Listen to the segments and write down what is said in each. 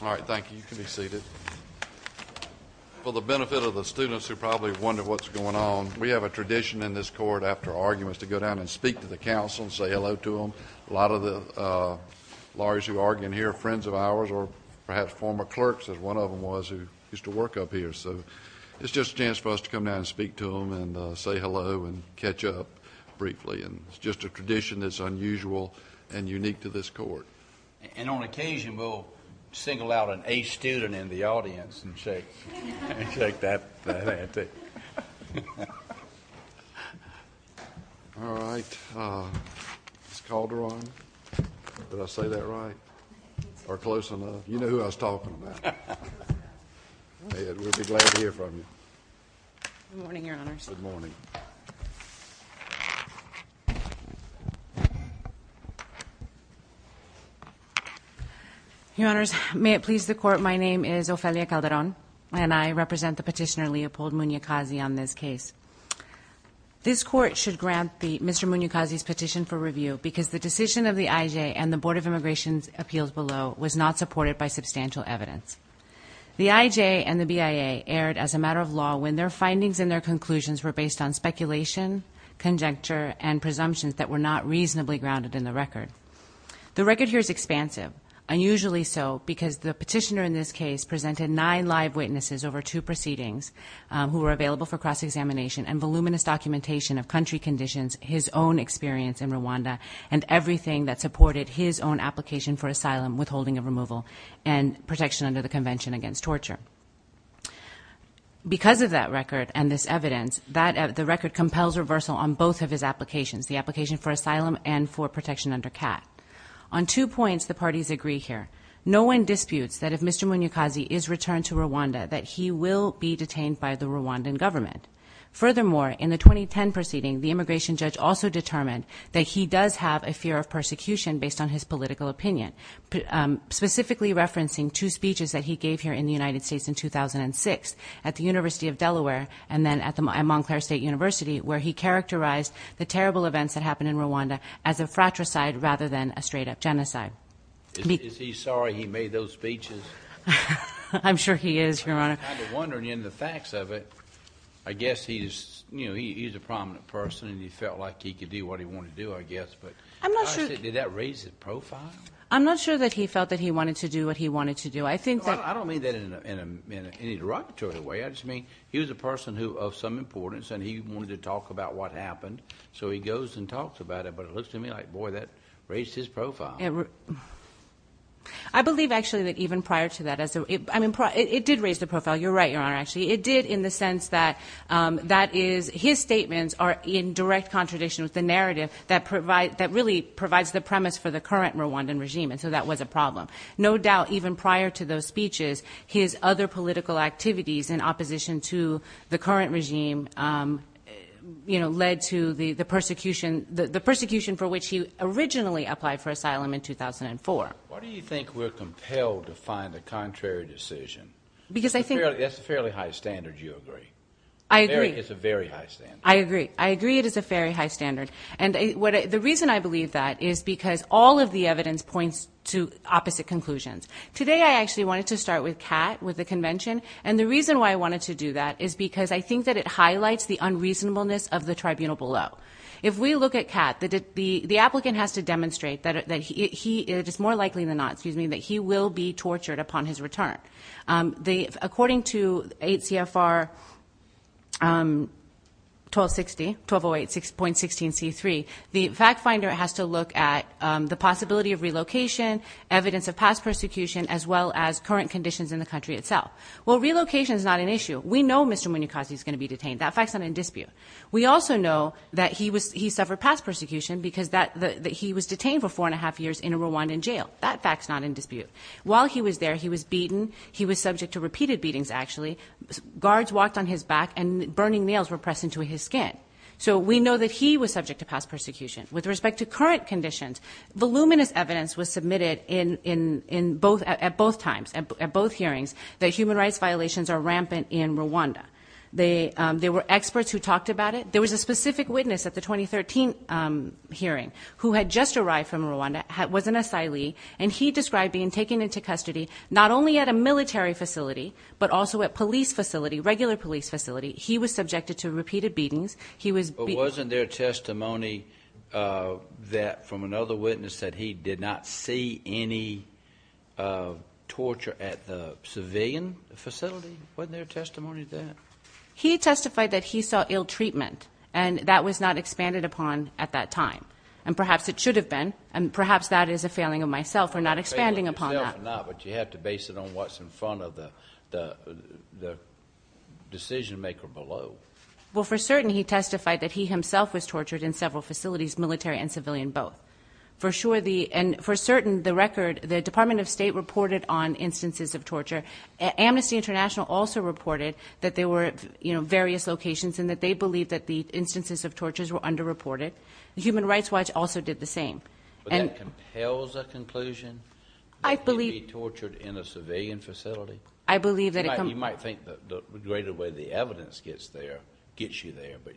All right, thank you. You can be seated. For the benefit of the students who probably wonder what's going on, we have a tradition in this court, after arguments, to go down and speak to the counsel and say hello to them. A lot of the lawyers who argue in here are friends of ours or perhaps former clerks, as one of them was, who used to work up here. So it's just a chance for us to come down and speak to them and say hello and catch up briefly. It's just a tradition that's unusual and unique to this court. And on occasion, we'll single out an A student in the audience and shake that hand, too. All right. Ms. Calderon, did I say that right or close enough? You know who I was talking about. Ed, we'll be glad to hear from you. Good morning, Your Honors. Good morning. Your Honors, may it please the Court, my name is Ofelia Calderon, and I represent the petitioner Leopold Munyakazi on this case. This court should grant Mr. Munyakazi's petition for review because the decision of the IJ and the Board of Immigration's appeals below was not supported by substantial evidence. The IJ and the BIA erred as a matter of law when their findings and their conclusions were based on speculation, conjecture, and presumptions that were not reasonably grounded in the record. The record here is expansive, unusually so because the petitioner in this case presented nine live witnesses over two proceedings who were available for cross-examination and voluminous documentation of country conditions, his own experience in Rwanda, and everything that supported his own application for asylum, withholding of removal, and protection under the Convention Against Torture. Because of that record and this evidence, the record compels reversal on both of his applications, the application for asylum and for protection under CAT. On two points, the parties agree here. No one disputes that if Mr. Munyakazi is returned to Rwanda, that he will be detained by the Rwandan government. Furthermore, in the 2010 proceeding, the immigration judge also determined that he does have a fear of persecution based on his political opinion, specifically referencing two speeches that he gave here in the United States in 2006 at the University of Delaware and then at Montclair State University, where he characterized the terrible events that happened in Rwanda as a fratricide rather than a straight-up genocide. Is he sorry he made those speeches? I'm sure he is, Your Honor. I'm kind of wondering, in the facts of it, I guess he's a prominent person and he felt like he could do what he wanted to do, I guess, but did that raise his profile? I'm not sure that he felt that he wanted to do what he wanted to do. I don't mean that in any derogatory way. I just mean he was a person of some importance and he wanted to talk about what happened, so he goes and talks about it. But it looks to me like, boy, that raised his profile. I believe, actually, that even prior to that, it did raise the profile. You're right, Your Honor, actually. It did in the sense that his statements are in direct contradiction with the narrative that really provides the premise for the current Rwandan regime, and so that was a problem. No doubt, even prior to those speeches, his other political activities in opposition to the current regime led to the persecution for which he originally applied for asylum in 2004. Why do you think we're compelled to find a contrary decision? That's a fairly high standard, you agree. I agree. It's a very high standard. I agree. I agree it is a very high standard, and the reason I believe that is because all of the evidence points to opposite conclusions. Today, I actually wanted to start with Kat, with the convention, and the reason why I wanted to do that is because I think that it highlights the unreasonableness of the tribunal below. If we look at Kat, the applicant has to demonstrate that it is more likely than not, excuse me, that he will be tortured upon his return. According to 8 CFR 1260, 1208.16C3, the fact finder has to look at the possibility of relocation, evidence of past persecution, as well as current conditions in the country itself. Well, relocation is not an issue. We know Mr. Mwenukazi is going to be detained. That fact's not in dispute. We also know that he suffered past persecution because he was detained for four and a half years in a Rwandan jail. That fact's not in dispute. While he was there, he was beaten. He was subject to repeated beatings, actually. Guards walked on his back, and burning nails were pressed into his skin. So we know that he was subject to past persecution. With respect to current conditions, voluminous evidence was submitted at both times, at both hearings, that human rights violations are rampant in Rwanda. There were experts who talked about it. There was a specific witness at the 2013 hearing who had just arrived from Rwanda, was an asylee, and he described being taken into custody, not only at a military facility, but also at police facility, regular police facility. He was subjected to repeated beatings. He was beaten. But wasn't there testimony from another witness that he did not see any torture at the civilian facility? Wasn't there testimony of that? He testified that he saw ill treatment, and that was not expanded upon at that time. And perhaps it should have been, and perhaps that is a failing of myself for not expanding upon that. But you have to base it on what's in front of the decision-maker below. Well, for certain, he testified that he himself was tortured in several facilities, military and civilian both. For sure, and for certain, the record, the Department of State reported on instances of torture. Amnesty International also reported that there were various locations and that they believe that the instances of tortures were underreported. The Human Rights Watch also did the same. But that compels a conclusion that he'd be tortured in a civilian facility? I believe that it... You might think the greater way the evidence gets you there, but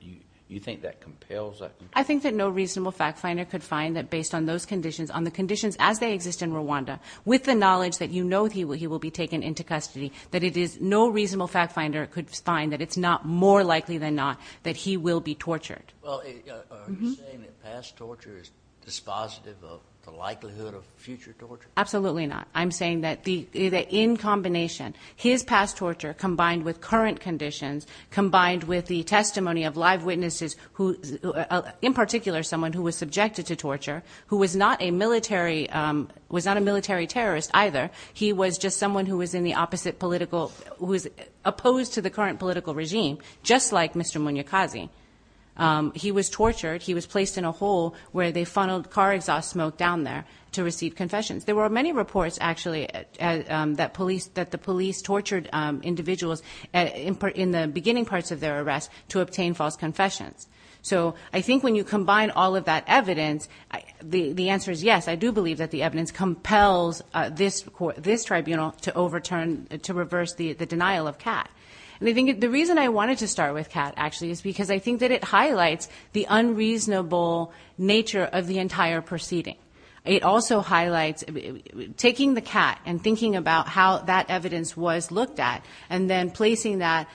you think that compels that conclusion? I think that no reasonable fact-finder could find that based on those conditions, on the conditions as they exist in Rwanda, with the knowledge that you know he will be taken into custody, that it is no reasonable fact-finder could find that it's not more likely than not that he will be tortured. Well, are you saying that past torture is dispositive of the likelihood of future torture? Absolutely not. I'm saying that in combination, his past torture combined with current conditions, combined with the testimony of live witnesses, in particular someone who was subjected to torture, who was not a military terrorist either. He was just someone who was in the opposite political... who was opposed to the current political regime, just like Mr. Munyakazi. He was tortured. He was placed in a hole where they funneled car exhaust smoke down there to receive confessions. There were many reports, actually, that the police tortured individuals in the beginning parts of their arrest to obtain false confessions. So I think when you combine all of that evidence, the answer is yes. I do believe that the evidence compels this tribunal to overturn, to reverse the denial of Kat. The reason I wanted to start with Kat, actually, is because I think that it highlights the unreasonable nature of the entire proceeding. It also highlights taking the Kat and thinking about how that evidence was looked at and then placing the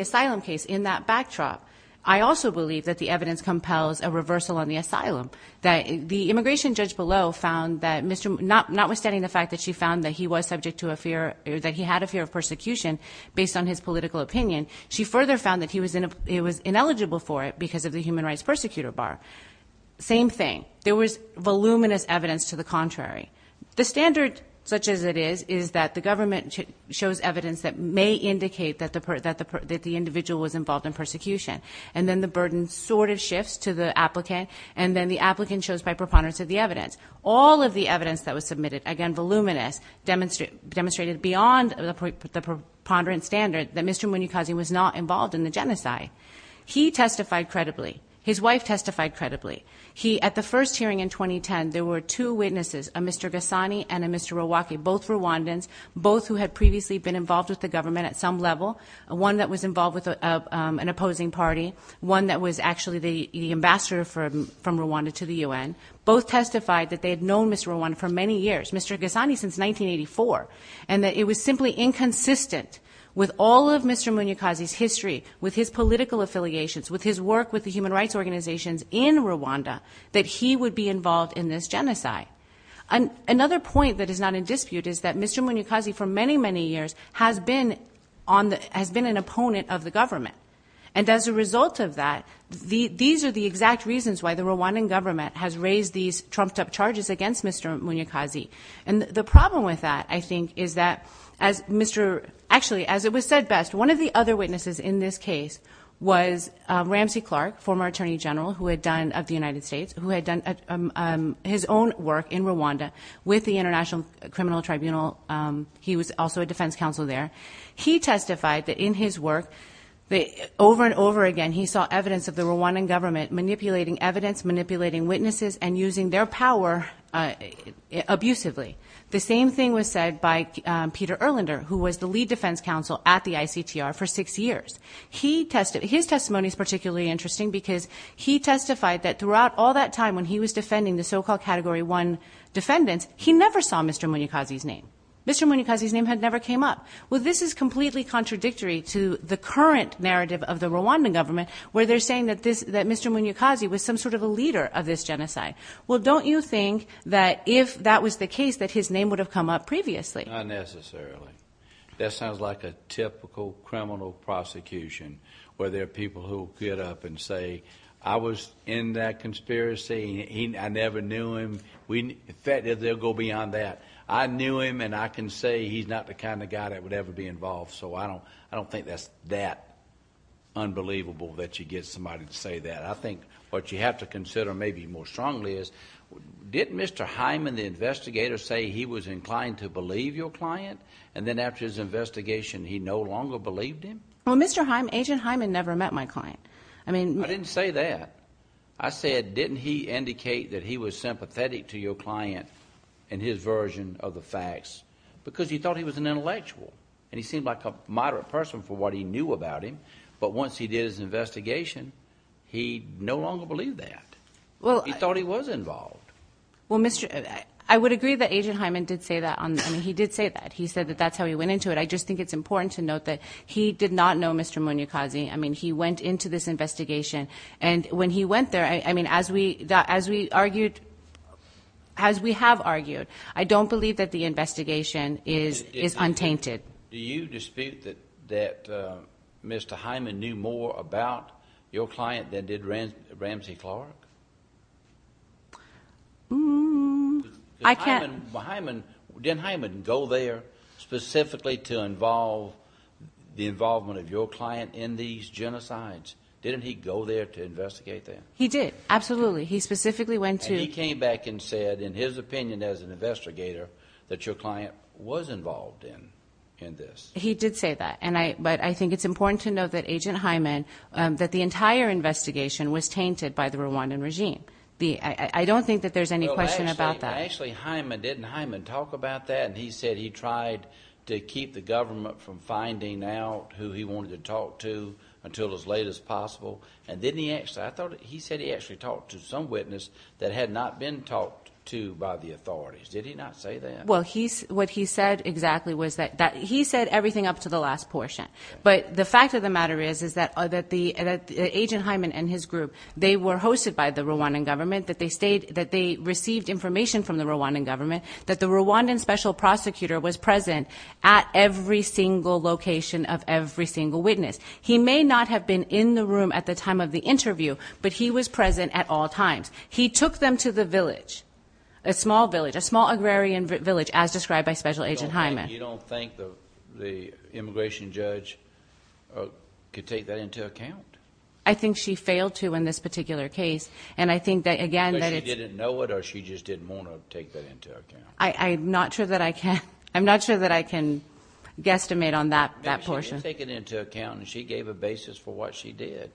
asylum case in that backdrop. I also believe that the evidence compels a reversal on the asylum. The immigration judge below found that Mr.... notwithstanding the fact that she found that he was subject to a fear... that he had a fear of persecution based on his political opinion, she further found that he was ineligible for it because of the human rights persecutor bar. Same thing. There was voluminous evidence to the contrary. The standard, such as it is, is that the government shows evidence that may indicate that the individual was involved in persecution. And then the burden sort of shifts to the applicant. And then the applicant shows by preponderance of the evidence. All of the evidence that was submitted, again voluminous, demonstrated beyond the preponderance standard that Mr.... was not involved in the genocide. He testified credibly. His wife testified credibly. He... at the first hearing in 2010, there were two witnesses, a Mr. Ghassani and a Mr. Rawake, both Rwandans, both who had previously been involved with the government at some level, one that was involved with an opposing party, one that was actually the ambassador from Rwanda to the UN. Both testified that they had known Mr. Rawake for many years, Mr. Ghassani since 1984, and that it was simply inconsistent with all of Mr. Munyakazi's history, with his political affiliations, with his work with the human rights organizations in Rwanda, that he would be involved in this genocide. Another point that is not in dispute is that Mr. Munyakazi for many, many years has been an opponent of the government. And as a result of that, these are the exact reasons why the Rwandan government has raised these trumped-up charges against Mr. Munyakazi. And the problem with that, I think, is that as Mr.... Ramsey Clark, former Attorney General of the United States, who had done his own work in Rwanda with the International Criminal Tribunal. He was also a defense counsel there. He testified that in his work, over and over again, he saw evidence of the Rwandan government manipulating evidence, manipulating witnesses, and using their power abusively. The same thing was said by Peter Erlander, who was the lead defense counsel at the ICTR for six years. His testimony is particularly interesting because he testified that throughout all that time, when he was defending the so-called Category 1 defendants, he never saw Mr. Munyakazi's name. Mr. Munyakazi's name had never came up. Well, this is completely contradictory to the current narrative of the Rwandan government, where they're saying that Mr. Munyakazi was some sort of a leader of this genocide. Well, don't you think that if that was the case, that his name would have come up previously? Not necessarily. That sounds like a typical criminal prosecution, where there are people who will get up and say, I was in that conspiracy, and I never knew him. In fact, they'll go beyond that. I knew him, and I can say he's not the kind of guy that would ever be involved. So I don't think that's that unbelievable that you get somebody to say that. I think what you have to consider maybe more strongly is, didn't Mr. Hyman, the investigator, say he was inclined to believe your client, and then after his investigation he no longer believed him? Well, Agent Hyman never met my client. I didn't say that. I said, didn't he indicate that he was sympathetic to your client in his version of the facts? Because he thought he was an intellectual, and he seemed like a moderate person for what he knew about him. But once he did his investigation, he no longer believed that. He thought he was involved. Well, I would agree that Agent Hyman did say that. I mean, he did say that. He said that that's how he went into it. I just think it's important to note that he did not know Mr. Munyakazi. I mean, he went into this investigation, and when he went there, I mean, as we have argued, I don't believe that the investigation is untainted. Do you dispute that Mr. Hyman knew more about your client than did Ramsey Clark? I can't. Didn't Hyman go there specifically to involve the involvement of your client in these genocides? Didn't he go there to investigate that? He did, absolutely. He specifically went to. He came back and said, in his opinion as an investigator, that your client was involved in this. He did say that. But I think it's important to note that Agent Hyman, that the entire investigation was tainted by the Rwandan regime. I don't think that there's any question about that. Actually, Hyman, didn't Hyman talk about that? He said he tried to keep the government from finding out who he wanted to talk to until as late as possible. I thought he said he actually talked to some witness that had not been talked to by the authorities. Did he not say that? Well, what he said exactly was that he said everything up to the last portion. But the fact of the matter is that Agent Hyman and his group, they were hosted by the Rwandan government, that they received information from the Rwandan government, that the Rwandan special prosecutor was present at every single location of every single witness. He may not have been in the room at the time of the interview, but he was present at all times. He took them to the village, a small village, a small agrarian village, as described by Special Agent Hyman. You don't think the immigration judge could take that into account? I think she failed to in this particular case. And I think that, again, that it's— But she didn't know it or she just didn't want to take that into account? I'm not sure that I can guesstimate on that portion. She didn't take it into account, and she gave a basis for what she did.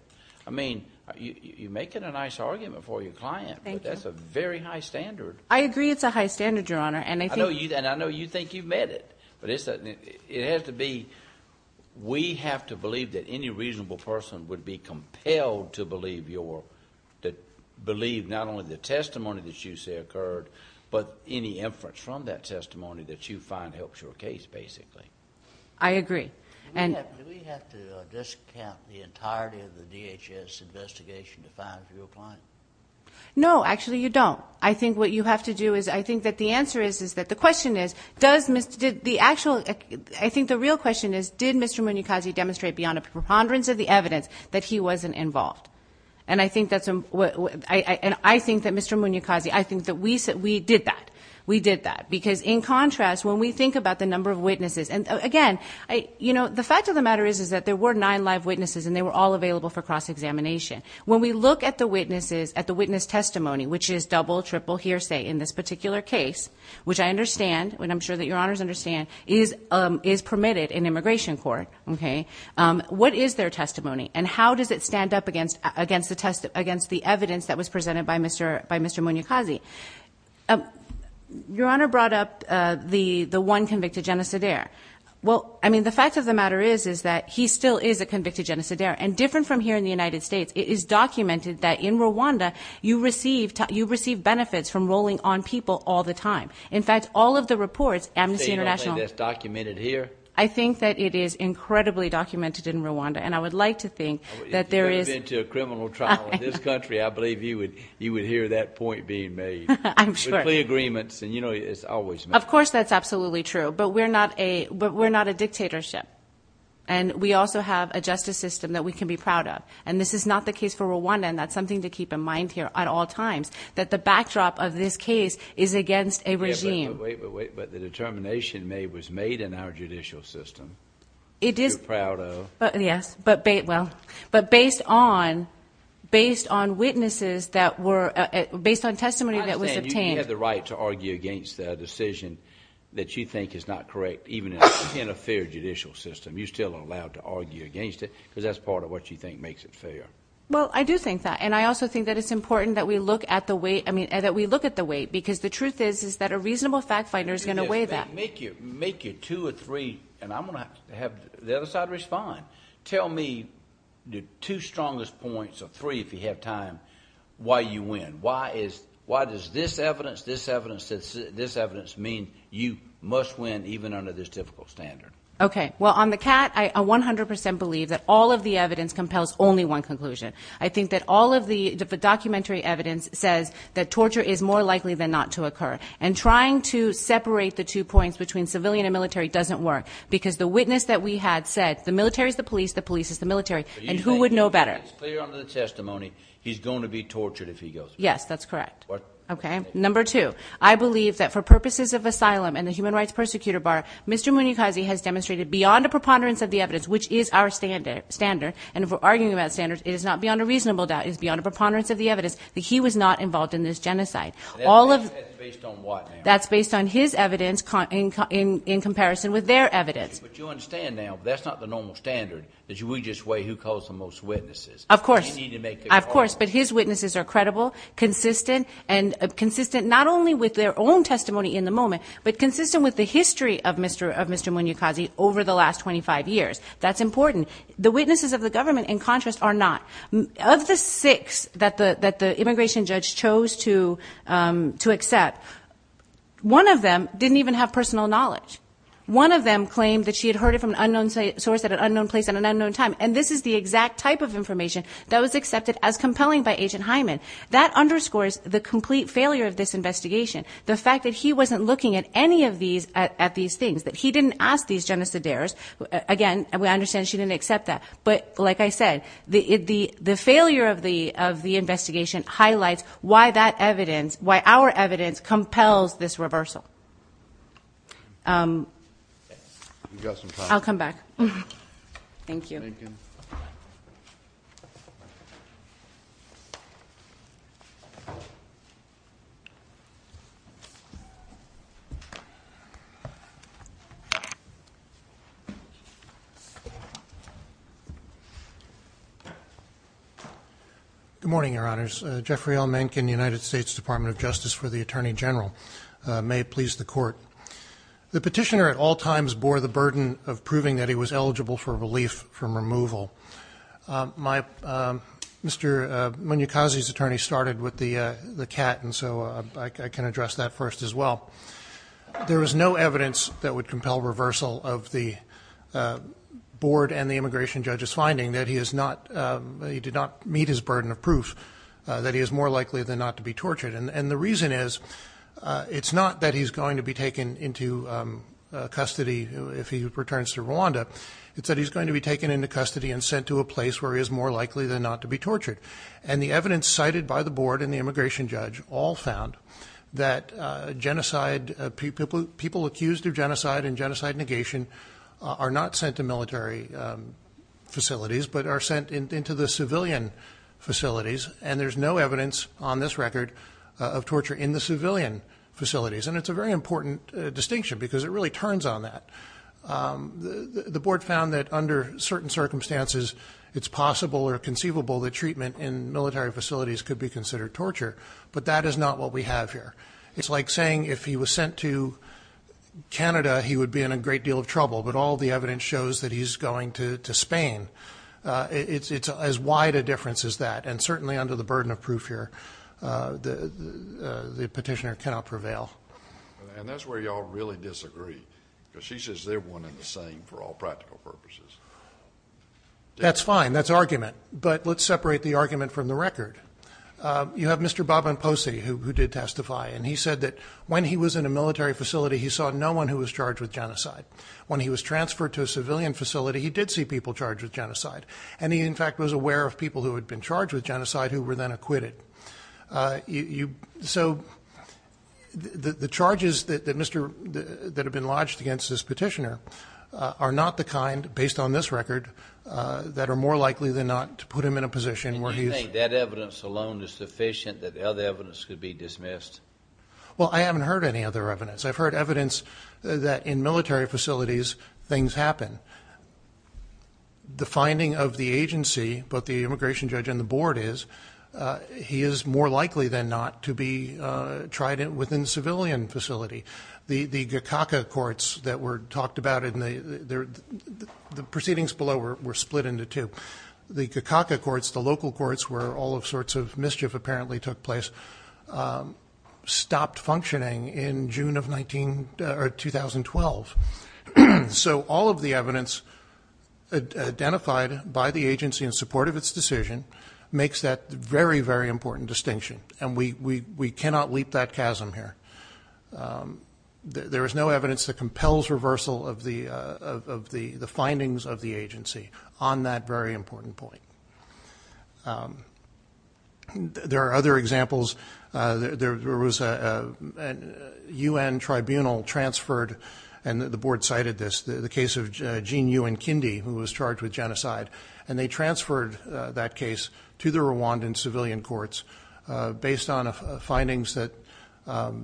I mean, you're making a nice argument for your client, but that's a very high standard. I agree it's a high standard, Your Honor. And I know you think you've met it, but it has to be— we have to believe that any reasonable person would be compelled to believe not only the testimony that you say occurred, but any inference from that testimony that you find helps your case, basically. I agree. Do we have to discount the entirety of the DHS investigation to find a real client? No, actually you don't. I think what you have to do is—I think that the answer is that the question is, does Mr.— I think the real question is, did Mr. Munyakazi demonstrate beyond a preponderance of the evidence that he wasn't involved? And I think that Mr. Munyakazi—I think that we did that. We did that. Because, in contrast, when we think about the number of witnesses—and, again, you know, the fact of the matter is that there were nine live witnesses, and they were all available for cross-examination. When we look at the witnesses, at the witness testimony, which is double, triple, hearsay in this particular case, which I understand, and I'm sure that Your Honors understand, is permitted in immigration court, okay, what is their testimony, and how does it stand up against the evidence that was presented by Mr. Munyakazi? Your Honor brought up the one convicted genocidaire. Well, I mean, the fact of the matter is that he still is a convicted genocidaire, and different from here in the United States, it is documented that in Rwanda you receive benefits from rolling on people all the time. In fact, all of the reports, Amnesty International— So you don't think that's documented here? I think that it is incredibly documented in Rwanda, and I would like to think that there is— I'm sure. —clear agreements, and, you know, it's always met. Of course that's absolutely true, but we're not a dictatorship, and we also have a justice system that we can be proud of, and this is not the case for Rwanda, and that's something to keep in mind here at all times, that the backdrop of this case is against a regime. Yeah, but wait, but wait, but the determination made was made in our judicial system. It is— We're proud of. Yes, but based on witnesses that were—based on testimony that was obtained— I understand you have the right to argue against a decision that you think is not correct, even in a fair judicial system. You're still allowed to argue against it because that's part of what you think makes it fair. Well, I do think that, and I also think that it's important that we look at the weight, I mean, that we look at the weight, because the truth is is that a reasonable fact finder is going to weigh that. Make your two or three—and I'm going to have the other side respond. Tell me the two strongest points or three, if you have time, why you win. Why is—why does this evidence, this evidence, this evidence mean you must win even under this difficult standard? Okay, well, on the cat, I 100 percent believe that all of the evidence compels only one conclusion. I think that all of the documentary evidence says that torture is more likely than not to occur, and trying to separate the two points between civilian and military doesn't work, because the witness that we had said, the military is the police, the police is the military, and who would know better? But you think he's clear under the testimony he's going to be tortured if he goes to jail? Yes, that's correct. Okay. Number two, I believe that for purposes of asylum and the human rights persecutor bar, Mr. Muneokazi has demonstrated beyond a preponderance of the evidence, which is our standard, and if we're arguing about standards, it is not beyond a reasonable doubt. It is beyond a preponderance of the evidence that he was not involved in this genocide. That's based on what now? That's based on his evidence in comparison with their evidence. But you understand now, that's not the normal standard, that we just weigh who caused the most witnesses. Of course. We need to make it credible. Of course, but his witnesses are credible, consistent, and consistent not only with their own testimony in the moment, but consistent with the history of Mr. Muneokazi over the last 25 years. That's important. The witnesses of the government, in contrast, are not. Of the six that the immigration judge chose to accept, one of them didn't even have personal knowledge. One of them claimed that she had heard it from an unknown source at an unknown place at an unknown time, and this is the exact type of information that was accepted as compelling by Agent Hyman. That underscores the complete failure of this investigation, the fact that he wasn't looking at any of these things, that he didn't ask these genociders. Again, we understand she didn't accept that. But like I said, the failure of the investigation highlights why that evidence, why our evidence, compels this reversal. I'll come back. Thank you. Good morning, Your Honors. Jeffrey L. Mencken, United States Department of Justice for the Attorney General. May it please the Court. The petitioner at all times bore the burden of proving that he was eligible for relief from removal. Mr. Muneokazi's attorney started with the cat, and so I can address that first as well. There is no evidence that would compel reversal of the board and the immigration judge's finding that he did not meet his burden of proof that he is more likely than not to be tortured. And the reason is, it's not that he's going to be taken into custody if he returns to Rwanda. It's that he's going to be taken into custody and sent to a place where he is more likely than not to be tortured. And the evidence cited by the board and the immigration judge all found that people accused of genocide and genocide negation are not sent to military facilities but are sent into the civilian facilities. And there's no evidence on this record of torture in the civilian facilities. And it's a very important distinction because it really turns on that. The board found that under certain circumstances, it's possible or conceivable that treatment in military facilities could be considered torture, but that is not what we have here. It's like saying if he was sent to Canada, he would be in a great deal of trouble, but all the evidence shows that he's going to Spain. It's as wide a difference as that, and certainly under the burden of proof here, the petitioner cannot prevail. And that's where you all really disagree, because she says they're one and the same for all practical purposes. That's fine. That's argument. But let's separate the argument from the record. You have Mr. Bhavanposi who did testify, and he said that when he was in a military facility, he saw no one who was charged with genocide. When he was transferred to a civilian facility, he did see people charged with genocide, and he, in fact, was aware of people who had been charged with genocide who were then acquitted. So the charges that have been lodged against this petitioner are not the kind, based on this record, that are more likely than not to put him in a position where he is. Do you think that evidence alone is sufficient that other evidence could be dismissed? Well, I haven't heard any other evidence. I've heard evidence that in military facilities things happen. The finding of the agency, both the immigration judge and the board, is he is more likely than not to be tried within a civilian facility. The Gakaka courts that were talked about in the proceedings below were split into two. The Gakaka courts, the local courts where all sorts of mischief apparently took place, stopped functioning in June of 2012. So all of the evidence identified by the agency in support of its decision makes that very, very important distinction, and we cannot leap that chasm here. There is no evidence that compels reversal of the findings of the agency on that very important point. There are other examples. There was a U.N. tribunal transferred, and the board cited this, the case of Gene Yuenkindy, who was charged with genocide, and they transferred that case to the Rwandan civilian courts based on findings that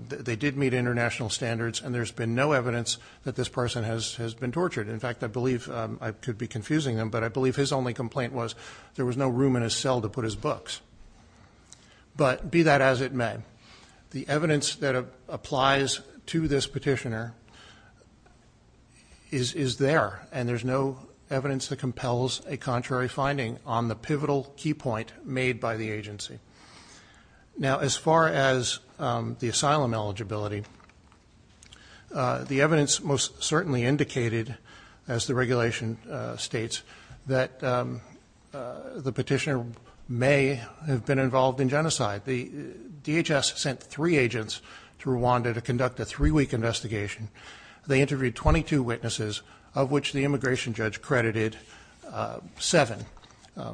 they did meet international standards, and there's been no evidence that this person has been tortured. In fact, I believe I could be confusing him, but I believe his only complaint was there was no room in his cell to put his books. But be that as it may, the evidence that applies to this petitioner is there, and there's no evidence that compels a contrary finding on the pivotal key point made by the agency. Now, as far as the asylum eligibility, the evidence most certainly indicated, as the regulation states, that the petitioner may have been involved in genocide. The DHS sent three agents to Rwanda to conduct a three-week investigation. They interviewed 22 witnesses, of which the immigration judge credited seven,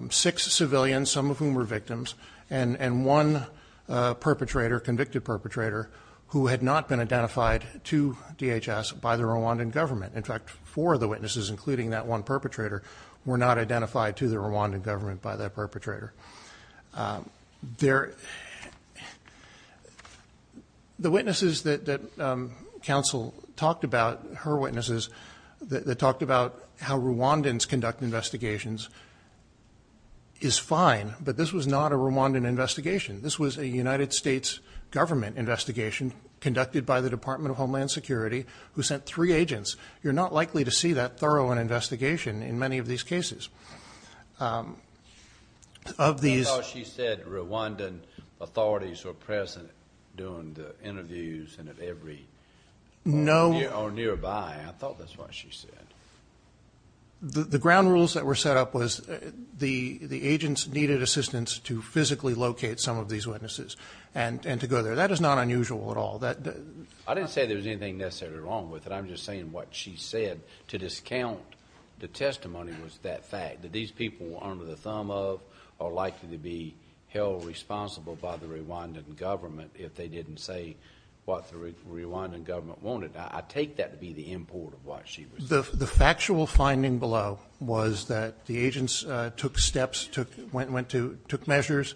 six civilians, some of whom were victims, and one perpetrator, convicted perpetrator, who had not been identified to DHS by the Rwandan government. In fact, four of the witnesses, including that one perpetrator, were not identified to the Rwandan government by that perpetrator. The witnesses that counsel talked about, her witnesses, that talked about how Rwandans conduct investigations, is fine. But this was not a Rwandan investigation. This was a United States government investigation conducted by the Department of Homeland Security, who sent three agents. You're not likely to see that thorough an investigation in many of these cases. Of these- I thought she said Rwandan authorities were present during the interviews, and of every- No- Or nearby. I thought that's what she said. The ground rules that were set up was the agents needed assistance to physically locate some of these witnesses and to go there. That is not unusual at all. I didn't say there was anything necessarily wrong with it. I'm just saying what she said to discount the testimony was that fact, that these people were under the thumb of or likely to be held responsible by the Rwandan government if they didn't say what the Rwandan government wanted. I take that to be the import of what she was saying. The factual finding below was that the agents took steps, took measures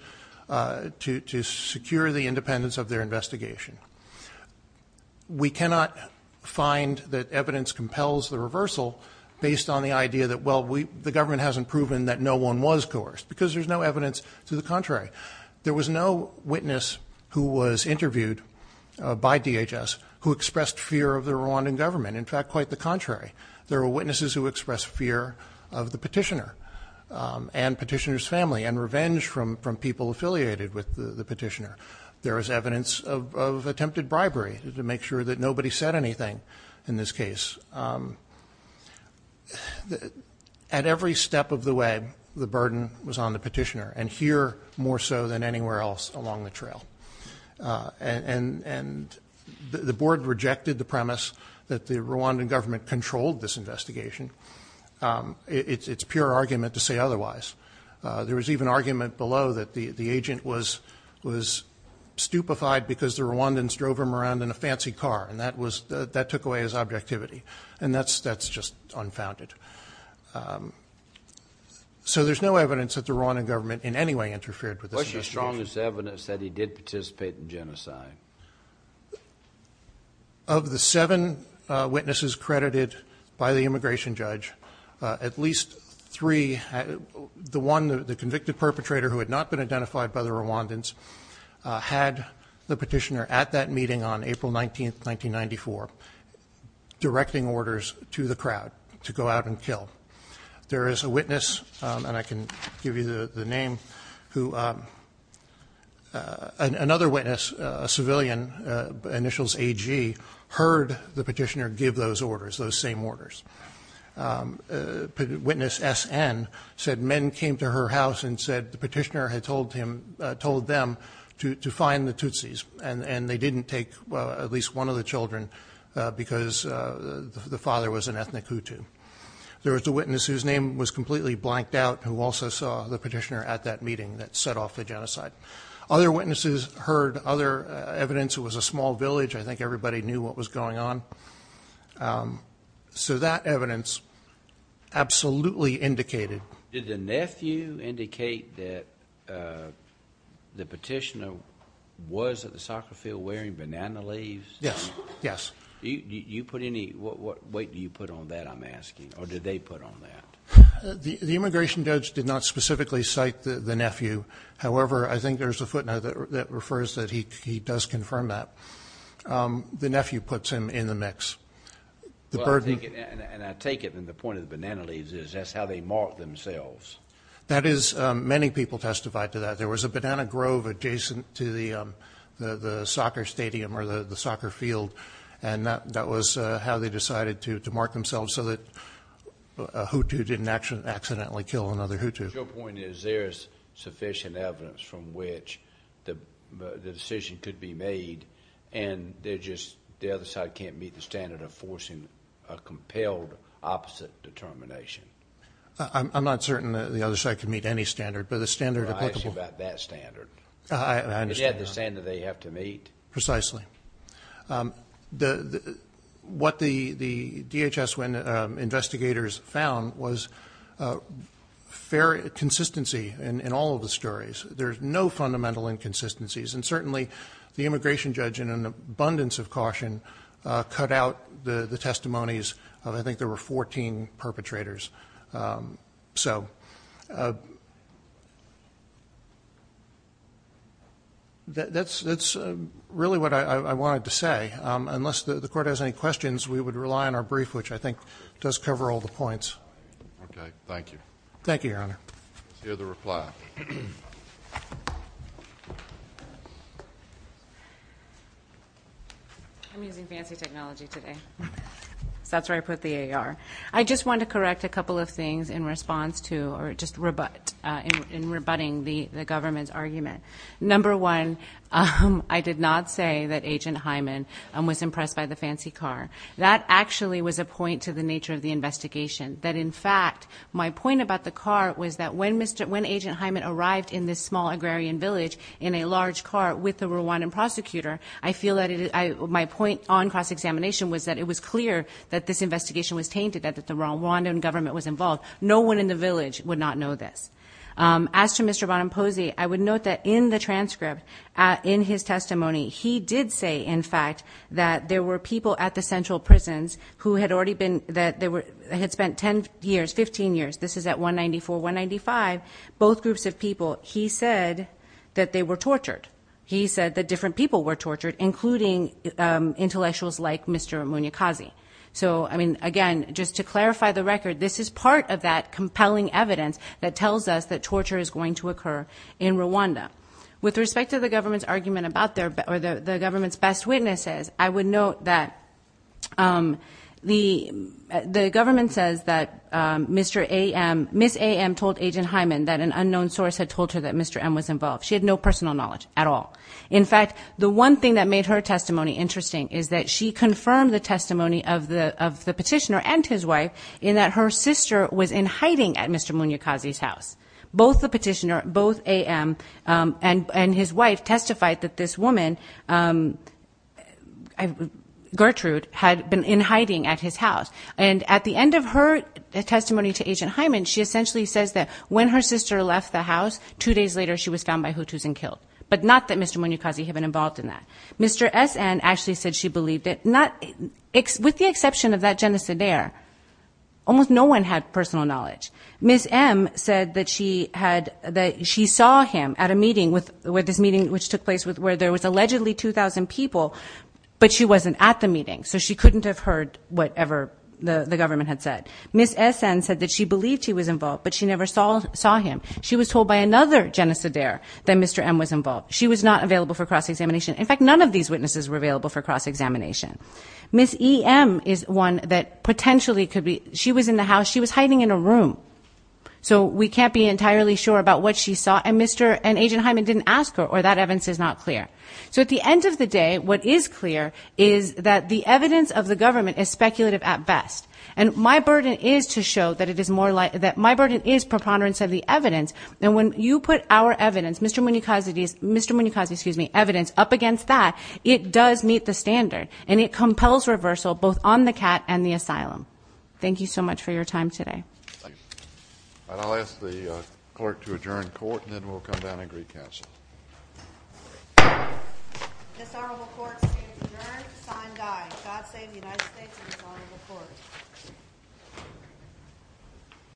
to secure the independence of their investigation. We cannot find that evidence compels the reversal based on the idea that, well, the government hasn't proven that no one was coerced because there's no evidence to the contrary. There was no witness who was interviewed by DHS who expressed fear of the Rwandan government. In fact, quite the contrary. There were witnesses who expressed fear of the petitioner and petitioner's family and revenge from people affiliated with the petitioner. There was evidence of attempted bribery to make sure that nobody said anything in this case. At every step of the way, the burden was on the petitioner, and here more so than anywhere else along the trail. And the board rejected the premise that the Rwandan government controlled this investigation. It's pure argument to say otherwise. There was even argument below that the agent was stupefied because the Rwandans drove him around in a fancy car, and that took away his objectivity, and that's just unfounded. So there's no evidence that the Rwandan government in any way interfered with this investigation. What's your strongest evidence that he did participate in genocide? Of the seven witnesses credited by the immigration judge, at least three, the one, the convicted perpetrator who had not been identified by the Rwandans, had the petitioner at that meeting on April 19, 1994, directing orders to the crowd to go out and kill. There is a witness, and I can give you the name, who another witness, a civilian, initials AG, heard the petitioner give those orders, those same orders. Witness SN said men came to her house and said the petitioner had told them to find the Tutsis, and they didn't take at least one of the children because the father was an ethnic Hutu. There was a witness whose name was completely blanked out who also saw the petitioner at that meeting that set off the genocide. Other witnesses heard other evidence. It was a small village. I think everybody knew what was going on. So that evidence absolutely indicated. Did the nephew indicate that the petitioner was at the soccer field wearing banana leaves? Yes, yes. What weight do you put on that, I'm asking, or did they put on that? The immigration judge did not specifically cite the nephew. However, I think there's a footnote that refers that he does confirm that. The nephew puts him in the mix. And I take it that the point of the banana leaves is that's how they marked themselves. That is. Many people testified to that. There was a banana grove adjacent to the soccer stadium or the soccer field, and that was how they decided to mark themselves so that a Hutu didn't accidentally kill another Hutu. Your point is there's sufficient evidence from which the decision could be made, and the other side can't meet the standard of forcing a compelled opposite determination. I'm not certain the other side can meet any standard, but the standard applicable. I'm not sure about that standard. I understand that. It had the standard they have to meet. Precisely. What the DHS investigators found was consistency in all of the stories. There's no fundamental inconsistencies, and certainly the immigration judge, in an abundance of caution, cut out the testimonies of I think there were 14 perpetrators. So that's really what I wanted to say. Unless the Court has any questions, we would rely on our brief, which I think does cover all the points. Okay. Thank you. Thank you, Your Honor. Let's hear the reply. I'm using fancy technology today. That's where I put the AR. I just want to correct a couple of things in response to or just in rebutting the government's argument. Number one, I did not say that Agent Hyman was impressed by the fancy car. That actually was a point to the nature of the investigation, that in fact my point about the car was that when Agent Hyman arrived in this small agrarian village in a large car with the Rwandan prosecutor, I feel that my point on cross-examination was that it was clear that this investigation was tainted, that the Rwandan government was involved. No one in the village would not know this. As to Mr. Bonamposi, I would note that in the transcript, in his testimony, he did say, in fact, that there were people at the central prisons who had spent 10 years, 15 years. This is at 194, 195, both groups of people. He said that they were tortured. He said that different people were tortured, including intellectuals like Mr. Munyakazi. So, I mean, again, just to clarify the record, this is part of that compelling evidence that tells us that torture is going to occur in Rwanda. With respect to the government's argument about their, or the government's best witnesses, I would note that the government says that Mr. A.M., Ms. A.M. told Agent Hyman that an unknown source had told her that Mr. M. was involved. She had no personal knowledge at all. In fact, the one thing that made her testimony interesting is that she confirmed the testimony of the petitioner and his wife in that her sister was in hiding at Mr. Munyakazi's house. Both the petitioner, both A.M. and his wife testified that this woman, Gertrude, had been in hiding at his house. And at the end of her testimony to Agent Hyman, she essentially says that when her sister left the house, two days later she was found by Hutus and killed. But not that Mr. Munyakazi had been involved in that. Mr. S.N. actually said she believed it. With the exception of that genocidaire, almost no one had personal knowledge. Ms. M. said that she saw him at a meeting, this meeting which took place where there was allegedly 2,000 people, but she wasn't at the meeting. So she couldn't have heard whatever the government had said. Ms. S.N. said that she believed he was involved, but she never saw him. She was told by another genocidaire that Mr. M. was involved. She was not available for cross-examination. In fact, none of these witnesses were available for cross-examination. Ms. E.M. is one that potentially could be. She was in the house. She was hiding in a room, so we can't be entirely sure about what she saw. And Mr. and Agent Hyman didn't ask her, or that evidence is not clear. So at the end of the day, what is clear is that the evidence of the government is speculative at best. And my burden is to show that my burden is preponderance of the evidence. And when you put our evidence, Mr. Munoz's, excuse me, evidence up against that, it does meet the standard, and it compels reversal both on the cat and the asylum. Thank you so much for your time today. Thank you. And I'll ask the clerk to adjourn court, and then we'll come down and greet counsel. This honorable court is adjourned. Signed, aye. God save the United States and this honorable court.